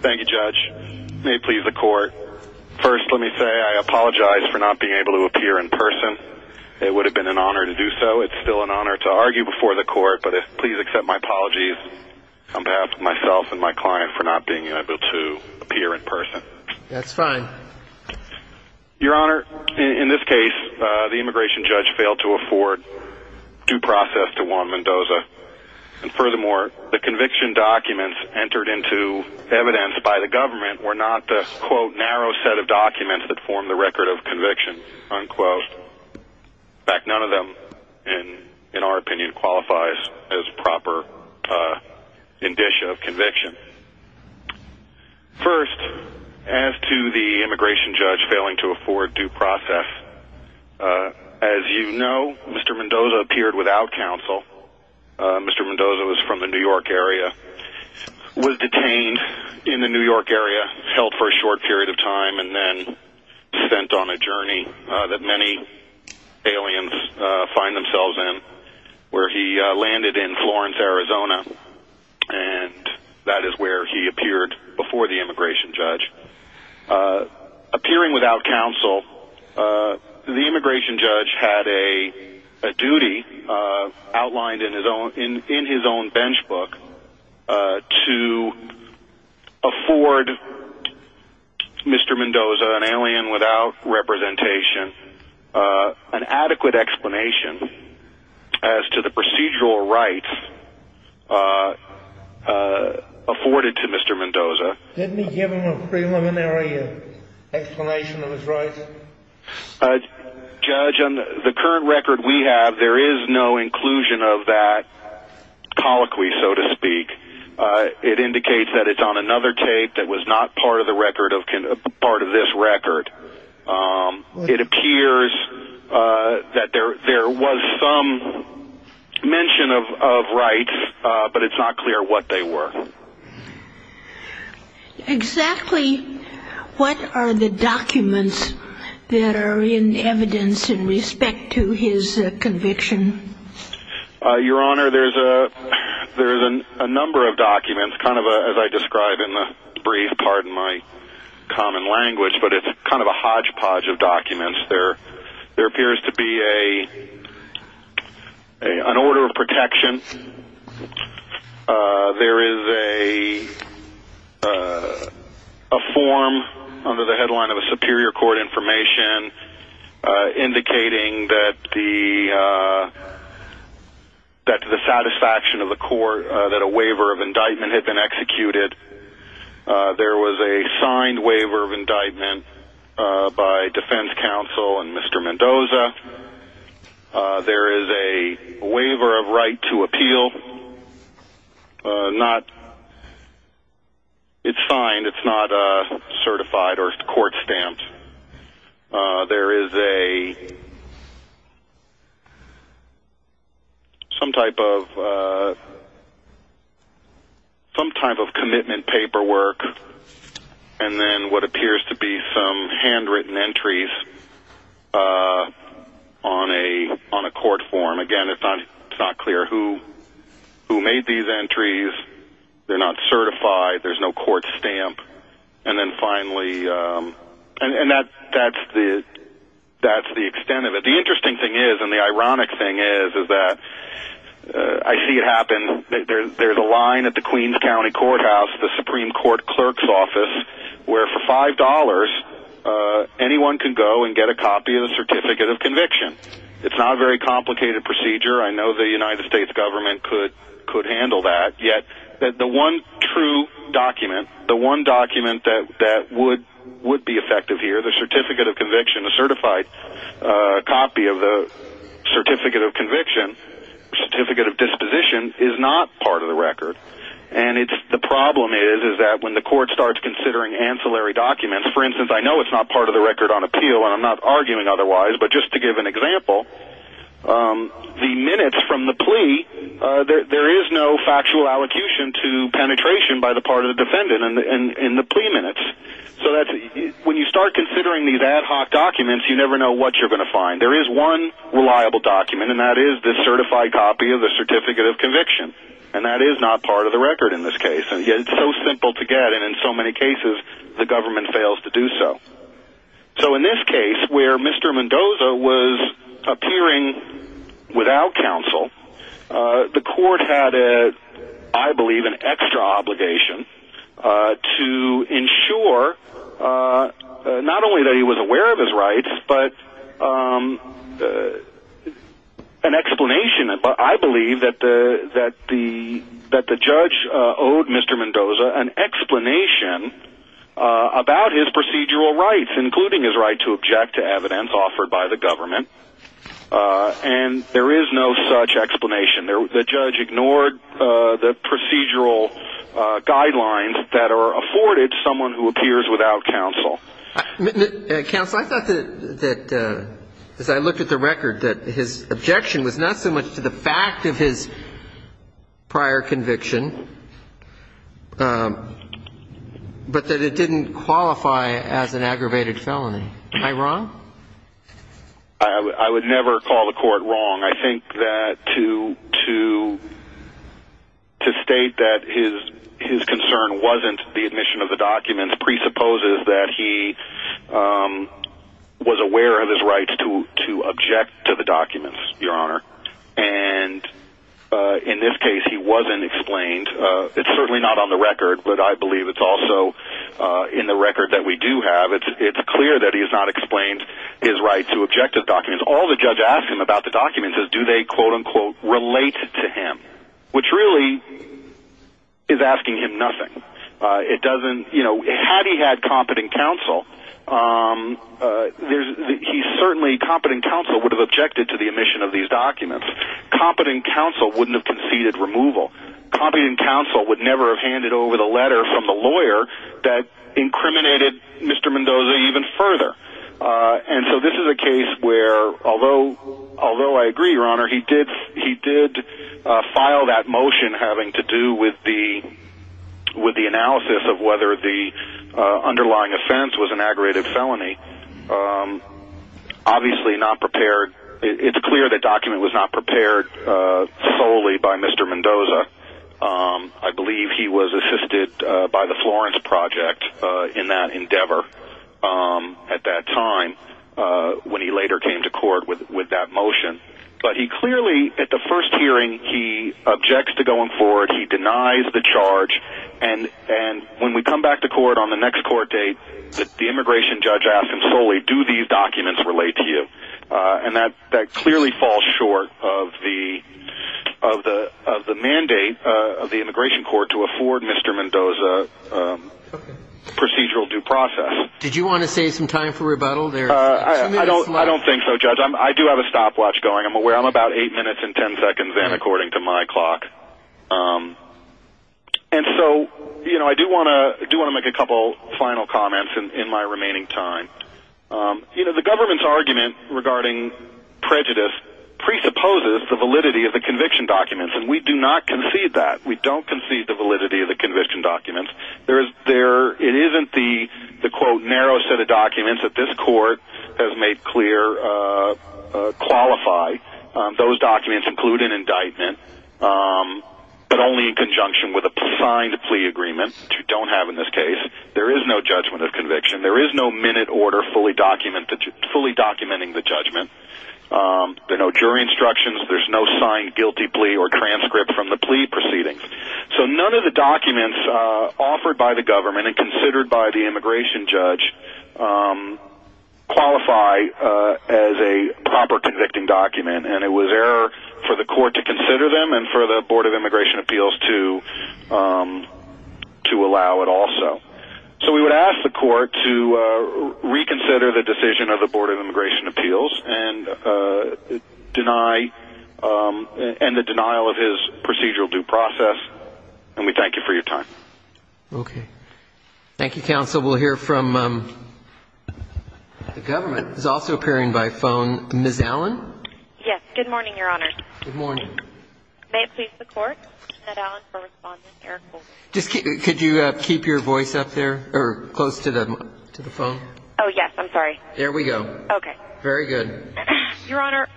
Thank you, Judge. May it please the court. First, let me say I apologize for not being able to appear in person. It would have been an honor to do so. It's still an honor to argue before the court, but please accept my apologies, on behalf of myself and my client, for not being able to appear in person. That's fine. Your Honor, in this case, the immigration judge failed to afford due process to Juan Mendoza. And furthermore, the conviction documents entered into evidence by the government were not the, quote, narrow set of documents that form the record of conviction, unquote. In fact, none of them, in our opinion, qualifies as proper indicia of conviction. First, as to the immigration judge failing to afford due process, as you know, Mr. Mendoza appeared without counsel. Mr. Mendoza was from the New York area, was detained in the New York area, held for a short period of time, and then sent on a journey that many aliens find themselves in, where he landed in Florence, Arizona. And that is where he appeared before the immigration judge. Appearing without counsel, the immigration judge had a duty outlined in his own benchmark to afford Mr. Mendoza, an alien without representation, an adequate explanation as to the procedural rights afforded to Mr. Mendoza. Didn't he give him a preliminary explanation of his rights? Judge, on the current record we have, there is no inclusion of that colloquy, so to speak. It indicates that it's on another tape that was not part of this record. It appears that there was some mention of rights, but it's not clear what they were. Exactly what are the documents that are in evidence in respect to his conviction? Your Honor, there's a number of documents, kind of as I described in the brief, pardon my common language, but it's kind of a hodgepodge of documents. There appears to be an order of protection. There is a form under the headline of a superior court information indicating that the satisfaction of the court, that a waiver of indictment had been executed. There was a signed waiver of indictment by defense counsel and Mr. Mendoza. There is a waiver of right to appeal. It's signed, it's not certified or court stamped. There is some type of commitment paperwork and then what appears to be some handwritten entries. On a court form, again, it's not clear who made these entries. They're not certified, there's no court stamp. And then finally, that's the extent of it. The interesting thing is, and the ironic thing is, is that I see it happen. There's a line at the Queens County Courthouse, the Supreme Court Clerk's Office, where for $5 anyone can go and get a copy of the Certificate of Conviction. It's not a very complicated procedure. I know the United States government could handle that. Yet the one true document, the one document that would be effective here, the Certificate of Conviction, a certified copy of the Certificate of Disposition, is not part of the record. The problem is that when the court starts considering ancillary documents, for instance, I know it's not part of the record on appeal and I'm not arguing otherwise, but just to give an example, the minutes from the plea, there is no factual allocution to penetration by the part of the defendant in the plea minutes. When you start considering these ad hoc documents, you never know what you're going to find. There is one reliable document, and that is the certified copy of the Certificate of Conviction. And that is not part of the record in this case. And yet it's so simple to get, and in so many cases the government fails to do so. So in this case, where Mr. Mendoza was appearing without counsel, the court had, I believe, an extra obligation to ensure not only that he was aware of his rights, but an explanation. I believe that the judge owed Mr. Mendoza an explanation about his procedural rights, including his right to object to evidence offered by the government. And there is no such explanation. The judge ignored the procedural guidelines that are afforded to someone who appears without counsel. Counsel, I thought that, as I looked at the record, that his objection was not so much to the fact of his prior conviction, but that it didn't qualify as an aggravated felony. Am I wrong? I would never call the court wrong. I think that to state that his concern wasn't the admission of the documents presupposes that he was aware of his rights to object to the documents, Your Honor. And in this case, he wasn't explained. It's certainly not on the record, but I believe it's also in the record that we do have. It's clear that he has not explained his right to object to the documents. All the judge asks him about the documents is do they, quote-unquote, relate to him, which really is asking him nothing. Had he had competent counsel, he certainly, competent counsel, would have objected to the admission of these documents. Competent counsel wouldn't have conceded removal. Competent counsel would never have handed over the letter from the lawyer that incriminated Mr. Mendoza even further. And so this is a case where, although I agree, Your Honor, he did file that motion having to do with the analysis of whether the underlying offense was an aggravated felony. Obviously not prepared. It's clear the document was not prepared solely by Mr. Mendoza. I believe he was assisted by the Florence Project in that endeavor at that time when he later came to court with that motion. But he clearly, at the first hearing, he objects to going forward. He denies the charge. And when we come back to court on the next court date, the immigration judge asks him solely, do these documents relate to you? And that clearly falls short of the mandate of the immigration court to afford Mr. Mendoza procedural due process. Did you want to save some time for rebuttal? I don't think so, Judge. I do have a stopwatch going. I'm aware I'm about 8 minutes and 10 seconds in according to my clock. And so I do want to make a couple final comments in my remaining time. The government's argument regarding prejudice presupposes the validity of the conviction documents, and we do not concede that. We don't concede the validity of the conviction documents. It isn't the, quote, narrow set of documents that this court has made clear qualify. Those documents include an indictment, but only in conjunction with a signed plea agreement, which we don't have in this case. There is no judgment of conviction. There is no minute order fully documenting the judgment. There are no jury instructions. There's no signed guilty plea or transcript from the plea proceedings. So none of the documents offered by the government and considered by the immigration judge qualify as a proper convicting document, and it was error for the court to consider them and for the Board of Immigration Appeals to allow it also. So we would ask the court to reconsider the decision of the Board of Immigration Appeals and the denial of his procedural due process, and we thank you for your time. Okay. Thank you, counsel. We'll hear from the government. He's also appearing by phone. Ms. Allen? Yes. Good morning, Your Honor. Good morning. May it please the court, Ned Allen for response and Eric Holder. Could you keep your voice up there or close to the phone? Oh, yes. I'm sorry. There we go. Okay. Very good. Your Honor,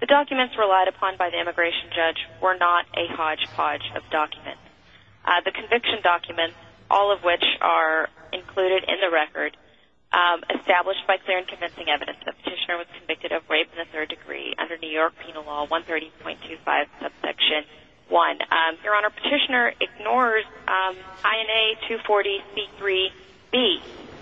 the documents relied upon by the immigration judge were not a hodgepodge of documents. The conviction documents, all of which are included in the record, established by clear and convincing evidence that Petitioner was convicted of rape in the third degree under New York Penal Law 130.25 subsection 1. Your Honor, Petitioner ignores INA 240C3B,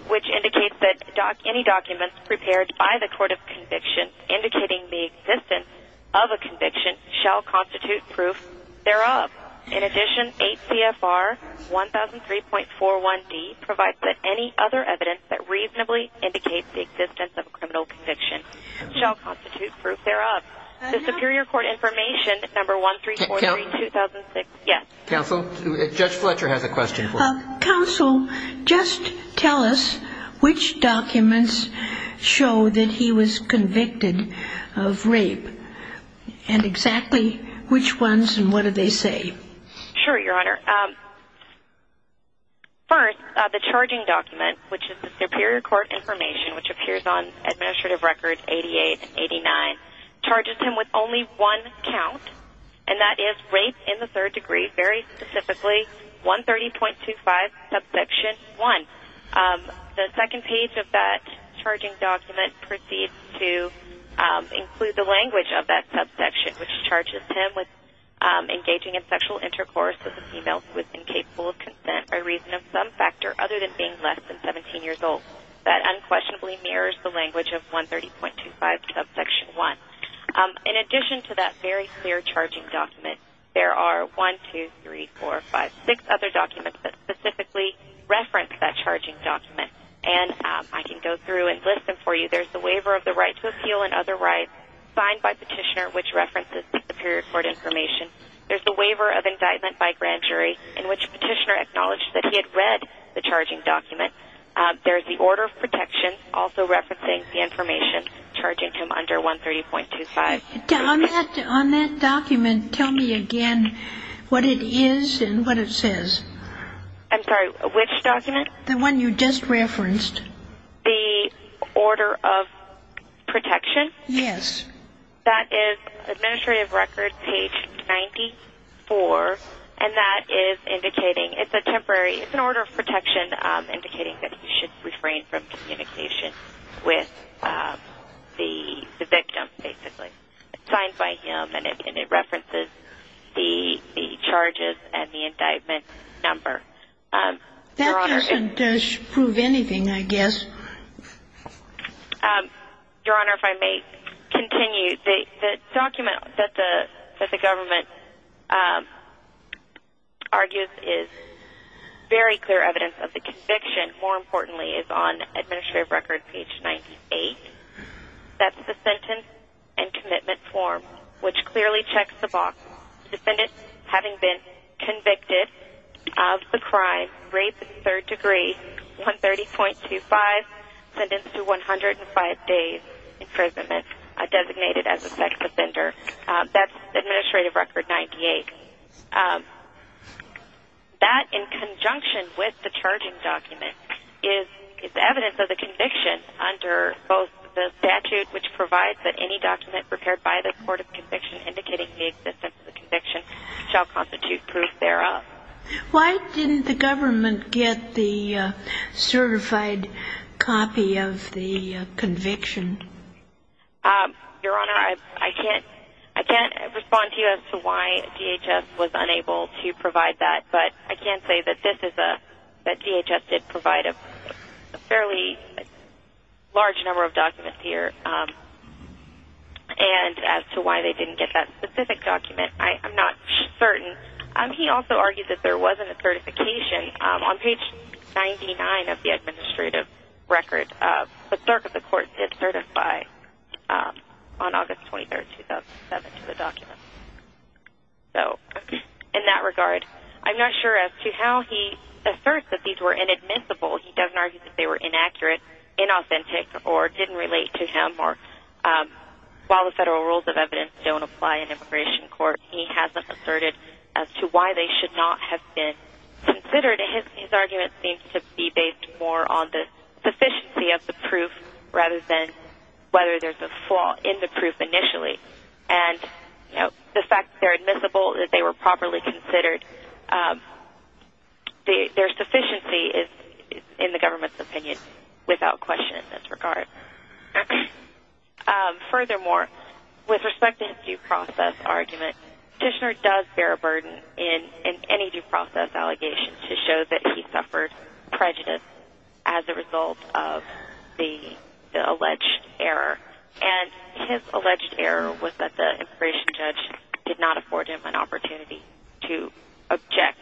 which indicates that any documents prepared by the court of conviction indicating the existence of a conviction shall constitute proof thereof. In addition, 8 CFR 1003.41D provides that any other evidence that reasonably indicates the existence of a criminal conviction shall constitute proof thereof. The superior court information, number 1343-2006. Counsel? Yes. Counsel, Judge Fletcher has a question for you. Counsel, just tell us which documents show that he was convicted of rape and exactly which ones and what do they say? Sure, Your Honor. First, the charging document, which is the superior court information, which appears on Administrative Records 88 and 89, charges him with only one count, and that is rape in the third degree, very specifically 130.25 subsection 1. The second page of that charging document proceeds to include the language of that subsection, which charges him with engaging in sexual intercourse with a female who is incapable of consent by reason of some factor other than being less than 17 years old. That unquestionably mirrors the language of 130.25 subsection 1. In addition to that very clear charging document, there are 1, 2, 3, 4, 5, 6 other documents that specifically reference that charging document, and I can go through and list them for you. There's the waiver of the right to appeal and other rights, signed by Petitioner, which references the superior court information. There's the waiver of indictment by grand jury, in which Petitioner acknowledged that he had read the charging document. There's the order of protection, also referencing the information, charging him under 130.25. On that document, tell me again what it is and what it says. I'm sorry, which document? The one you just referenced. The order of protection? Yes. That is Administrative Record, page 94, and that is indicating it's a temporary order of protection, indicating that he should refrain from communication with the victim, basically. It's signed by him, and it references the charges and the indictment number. That doesn't prove anything, I guess. Your Honor, if I may continue. The document that the government argues is very clear evidence of the conviction, more importantly, is on Administrative Record, page 98. That's the sentence and commitment form, which clearly checks the box. Defendant having been convicted of the crime, rape in third degree, 130.25, sentenced to 105 days imprisonment, designated as a sex offender. That's Administrative Record, page 98. That, in conjunction with the charging document, is evidence of the conviction under both the statute, which provides that any document prepared by the Court of Conviction indicating the existence of the conviction shall constitute proof thereof. Why didn't the government get the certified copy of the conviction? Your Honor, I can't respond to you as to why DHS was unable to provide that, but I can say that DHS did provide a fairly large number of documents here. And as to why they didn't get that specific document, I'm not certain. He also argued that there wasn't a certification on page 99 of the Administrative Record. The clerk of the court did certify on August 23, 2007, to the document. In that regard, I'm not sure as to how he asserts that these were inadmissible. He doesn't argue that they were inaccurate, inauthentic, or didn't relate to him. While the federal rules of evidence don't apply in immigration court, he hasn't asserted as to why they should not have been considered. His argument seems to be based more on the sufficiency of the proof rather than whether there's a flaw in the proof initially. And the fact that they're admissible, that they were properly considered, their sufficiency is, in the government's opinion, without question in this regard. Furthermore, with respect to his due process argument, Dishner does bear a burden in any due process allegation to show that he suffered prejudice as a result of the alleged error. And his alleged error was that the immigration judge did not afford him an opportunity to object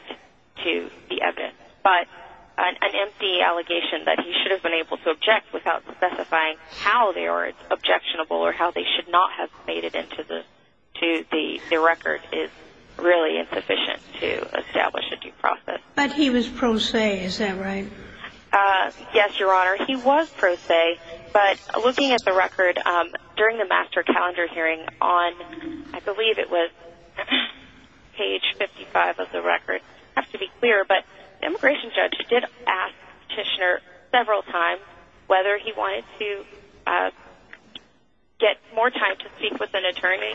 to the evidence. But an empty allegation that he should have been able to object without specifying how they are objectionable or how they should not have made it into the record is really insufficient to establish a due process. But he was pro se, is that right? Yes, Your Honor, he was pro se. But looking at the record during the master calendar hearing on, I believe it was page 55 of the record, I have to be clear, but the immigration judge did ask Dishner several times whether he wanted to get more time to speak with an attorney.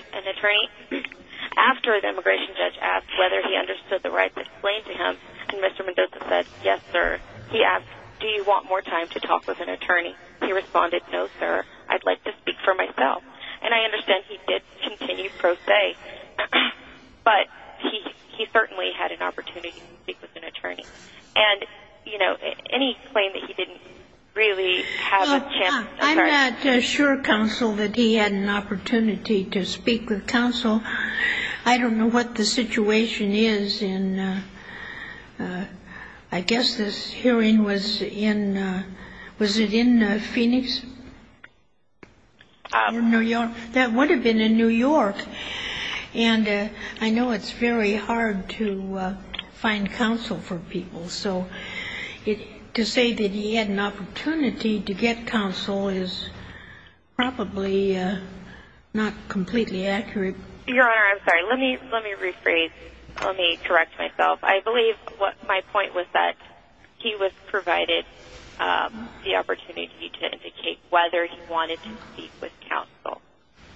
After the immigration judge asked whether he understood the right to explain to him, Mr. Mendoza said, yes, sir. He asked, do you want more time to talk with an attorney? He responded, no, sir, I'd like to speak for myself. And I understand he did continue pro se, but he certainly had an opportunity to speak with an attorney. And, you know, any claim that he didn't really have a chance. I'm not sure, counsel, that he had an opportunity to speak with counsel. I don't know what the situation is in, I guess this hearing was in, was it in Phoenix? That would have been in New York. And I know it's very hard to find counsel for people, so to say that he had an opportunity to get counsel is probably not completely accurate. Your Honor, I'm sorry, let me rephrase, let me correct myself. I believe my point was that he was provided the opportunity to indicate whether he wanted to speak with counsel.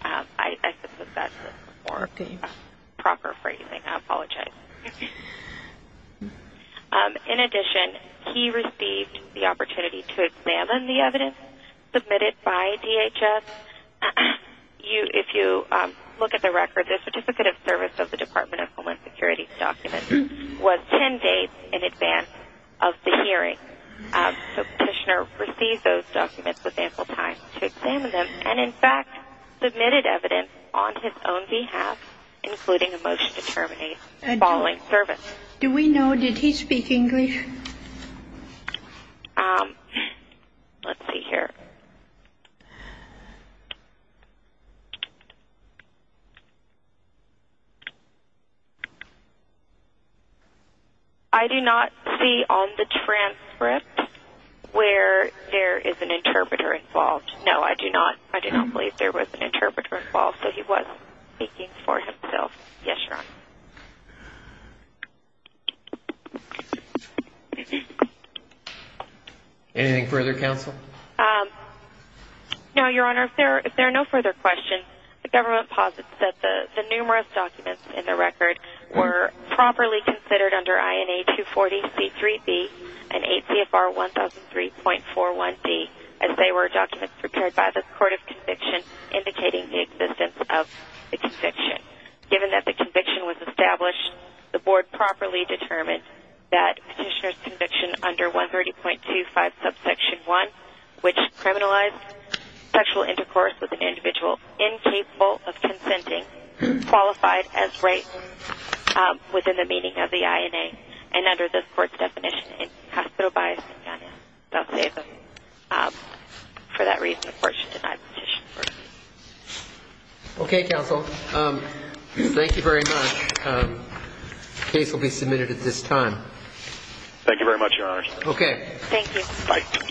I suppose that's the proper phrasing. I apologize. In addition, he received the opportunity to examine the evidence submitted by DHS. If you look at the record, the Certificate of Service of the Department of Homeland Security document was 10 days in advance of the hearing. So Petitioner received those documents with ample time to examine them. And, in fact, submitted evidence on his own behalf, including a motion to terminate the following service. Do we know, did he speak English? Let's see here. I do not see on the transcript where there is an interpreter involved. No, I do not. I do not believe there was an interpreter involved, so he was speaking for himself. Yes, Your Honor. Anything further, counsel? No, Your Honor. If there are no further questions, the government posits that the numerous documents in the record were properly considered under INA 240C3B and ACFR 1003.41D, as they were documents prepared by the Court of Conviction indicating the existence of the conviction. Given that the conviction was established, the Board properly determined that Petitioner's conviction under 130.25 subsection 1, which criminalized sexual intercourse with an individual incapable of consenting, qualified as race within the meaning of the INA, and under this Court's definition, it is hospital-biased and does not save them. For that reason, the Court should deny the petition. Okay, counsel. Thank you very much. The case will be submitted at this time. Thank you very much, Your Honor. Okay. Thank you. Bye. Bye.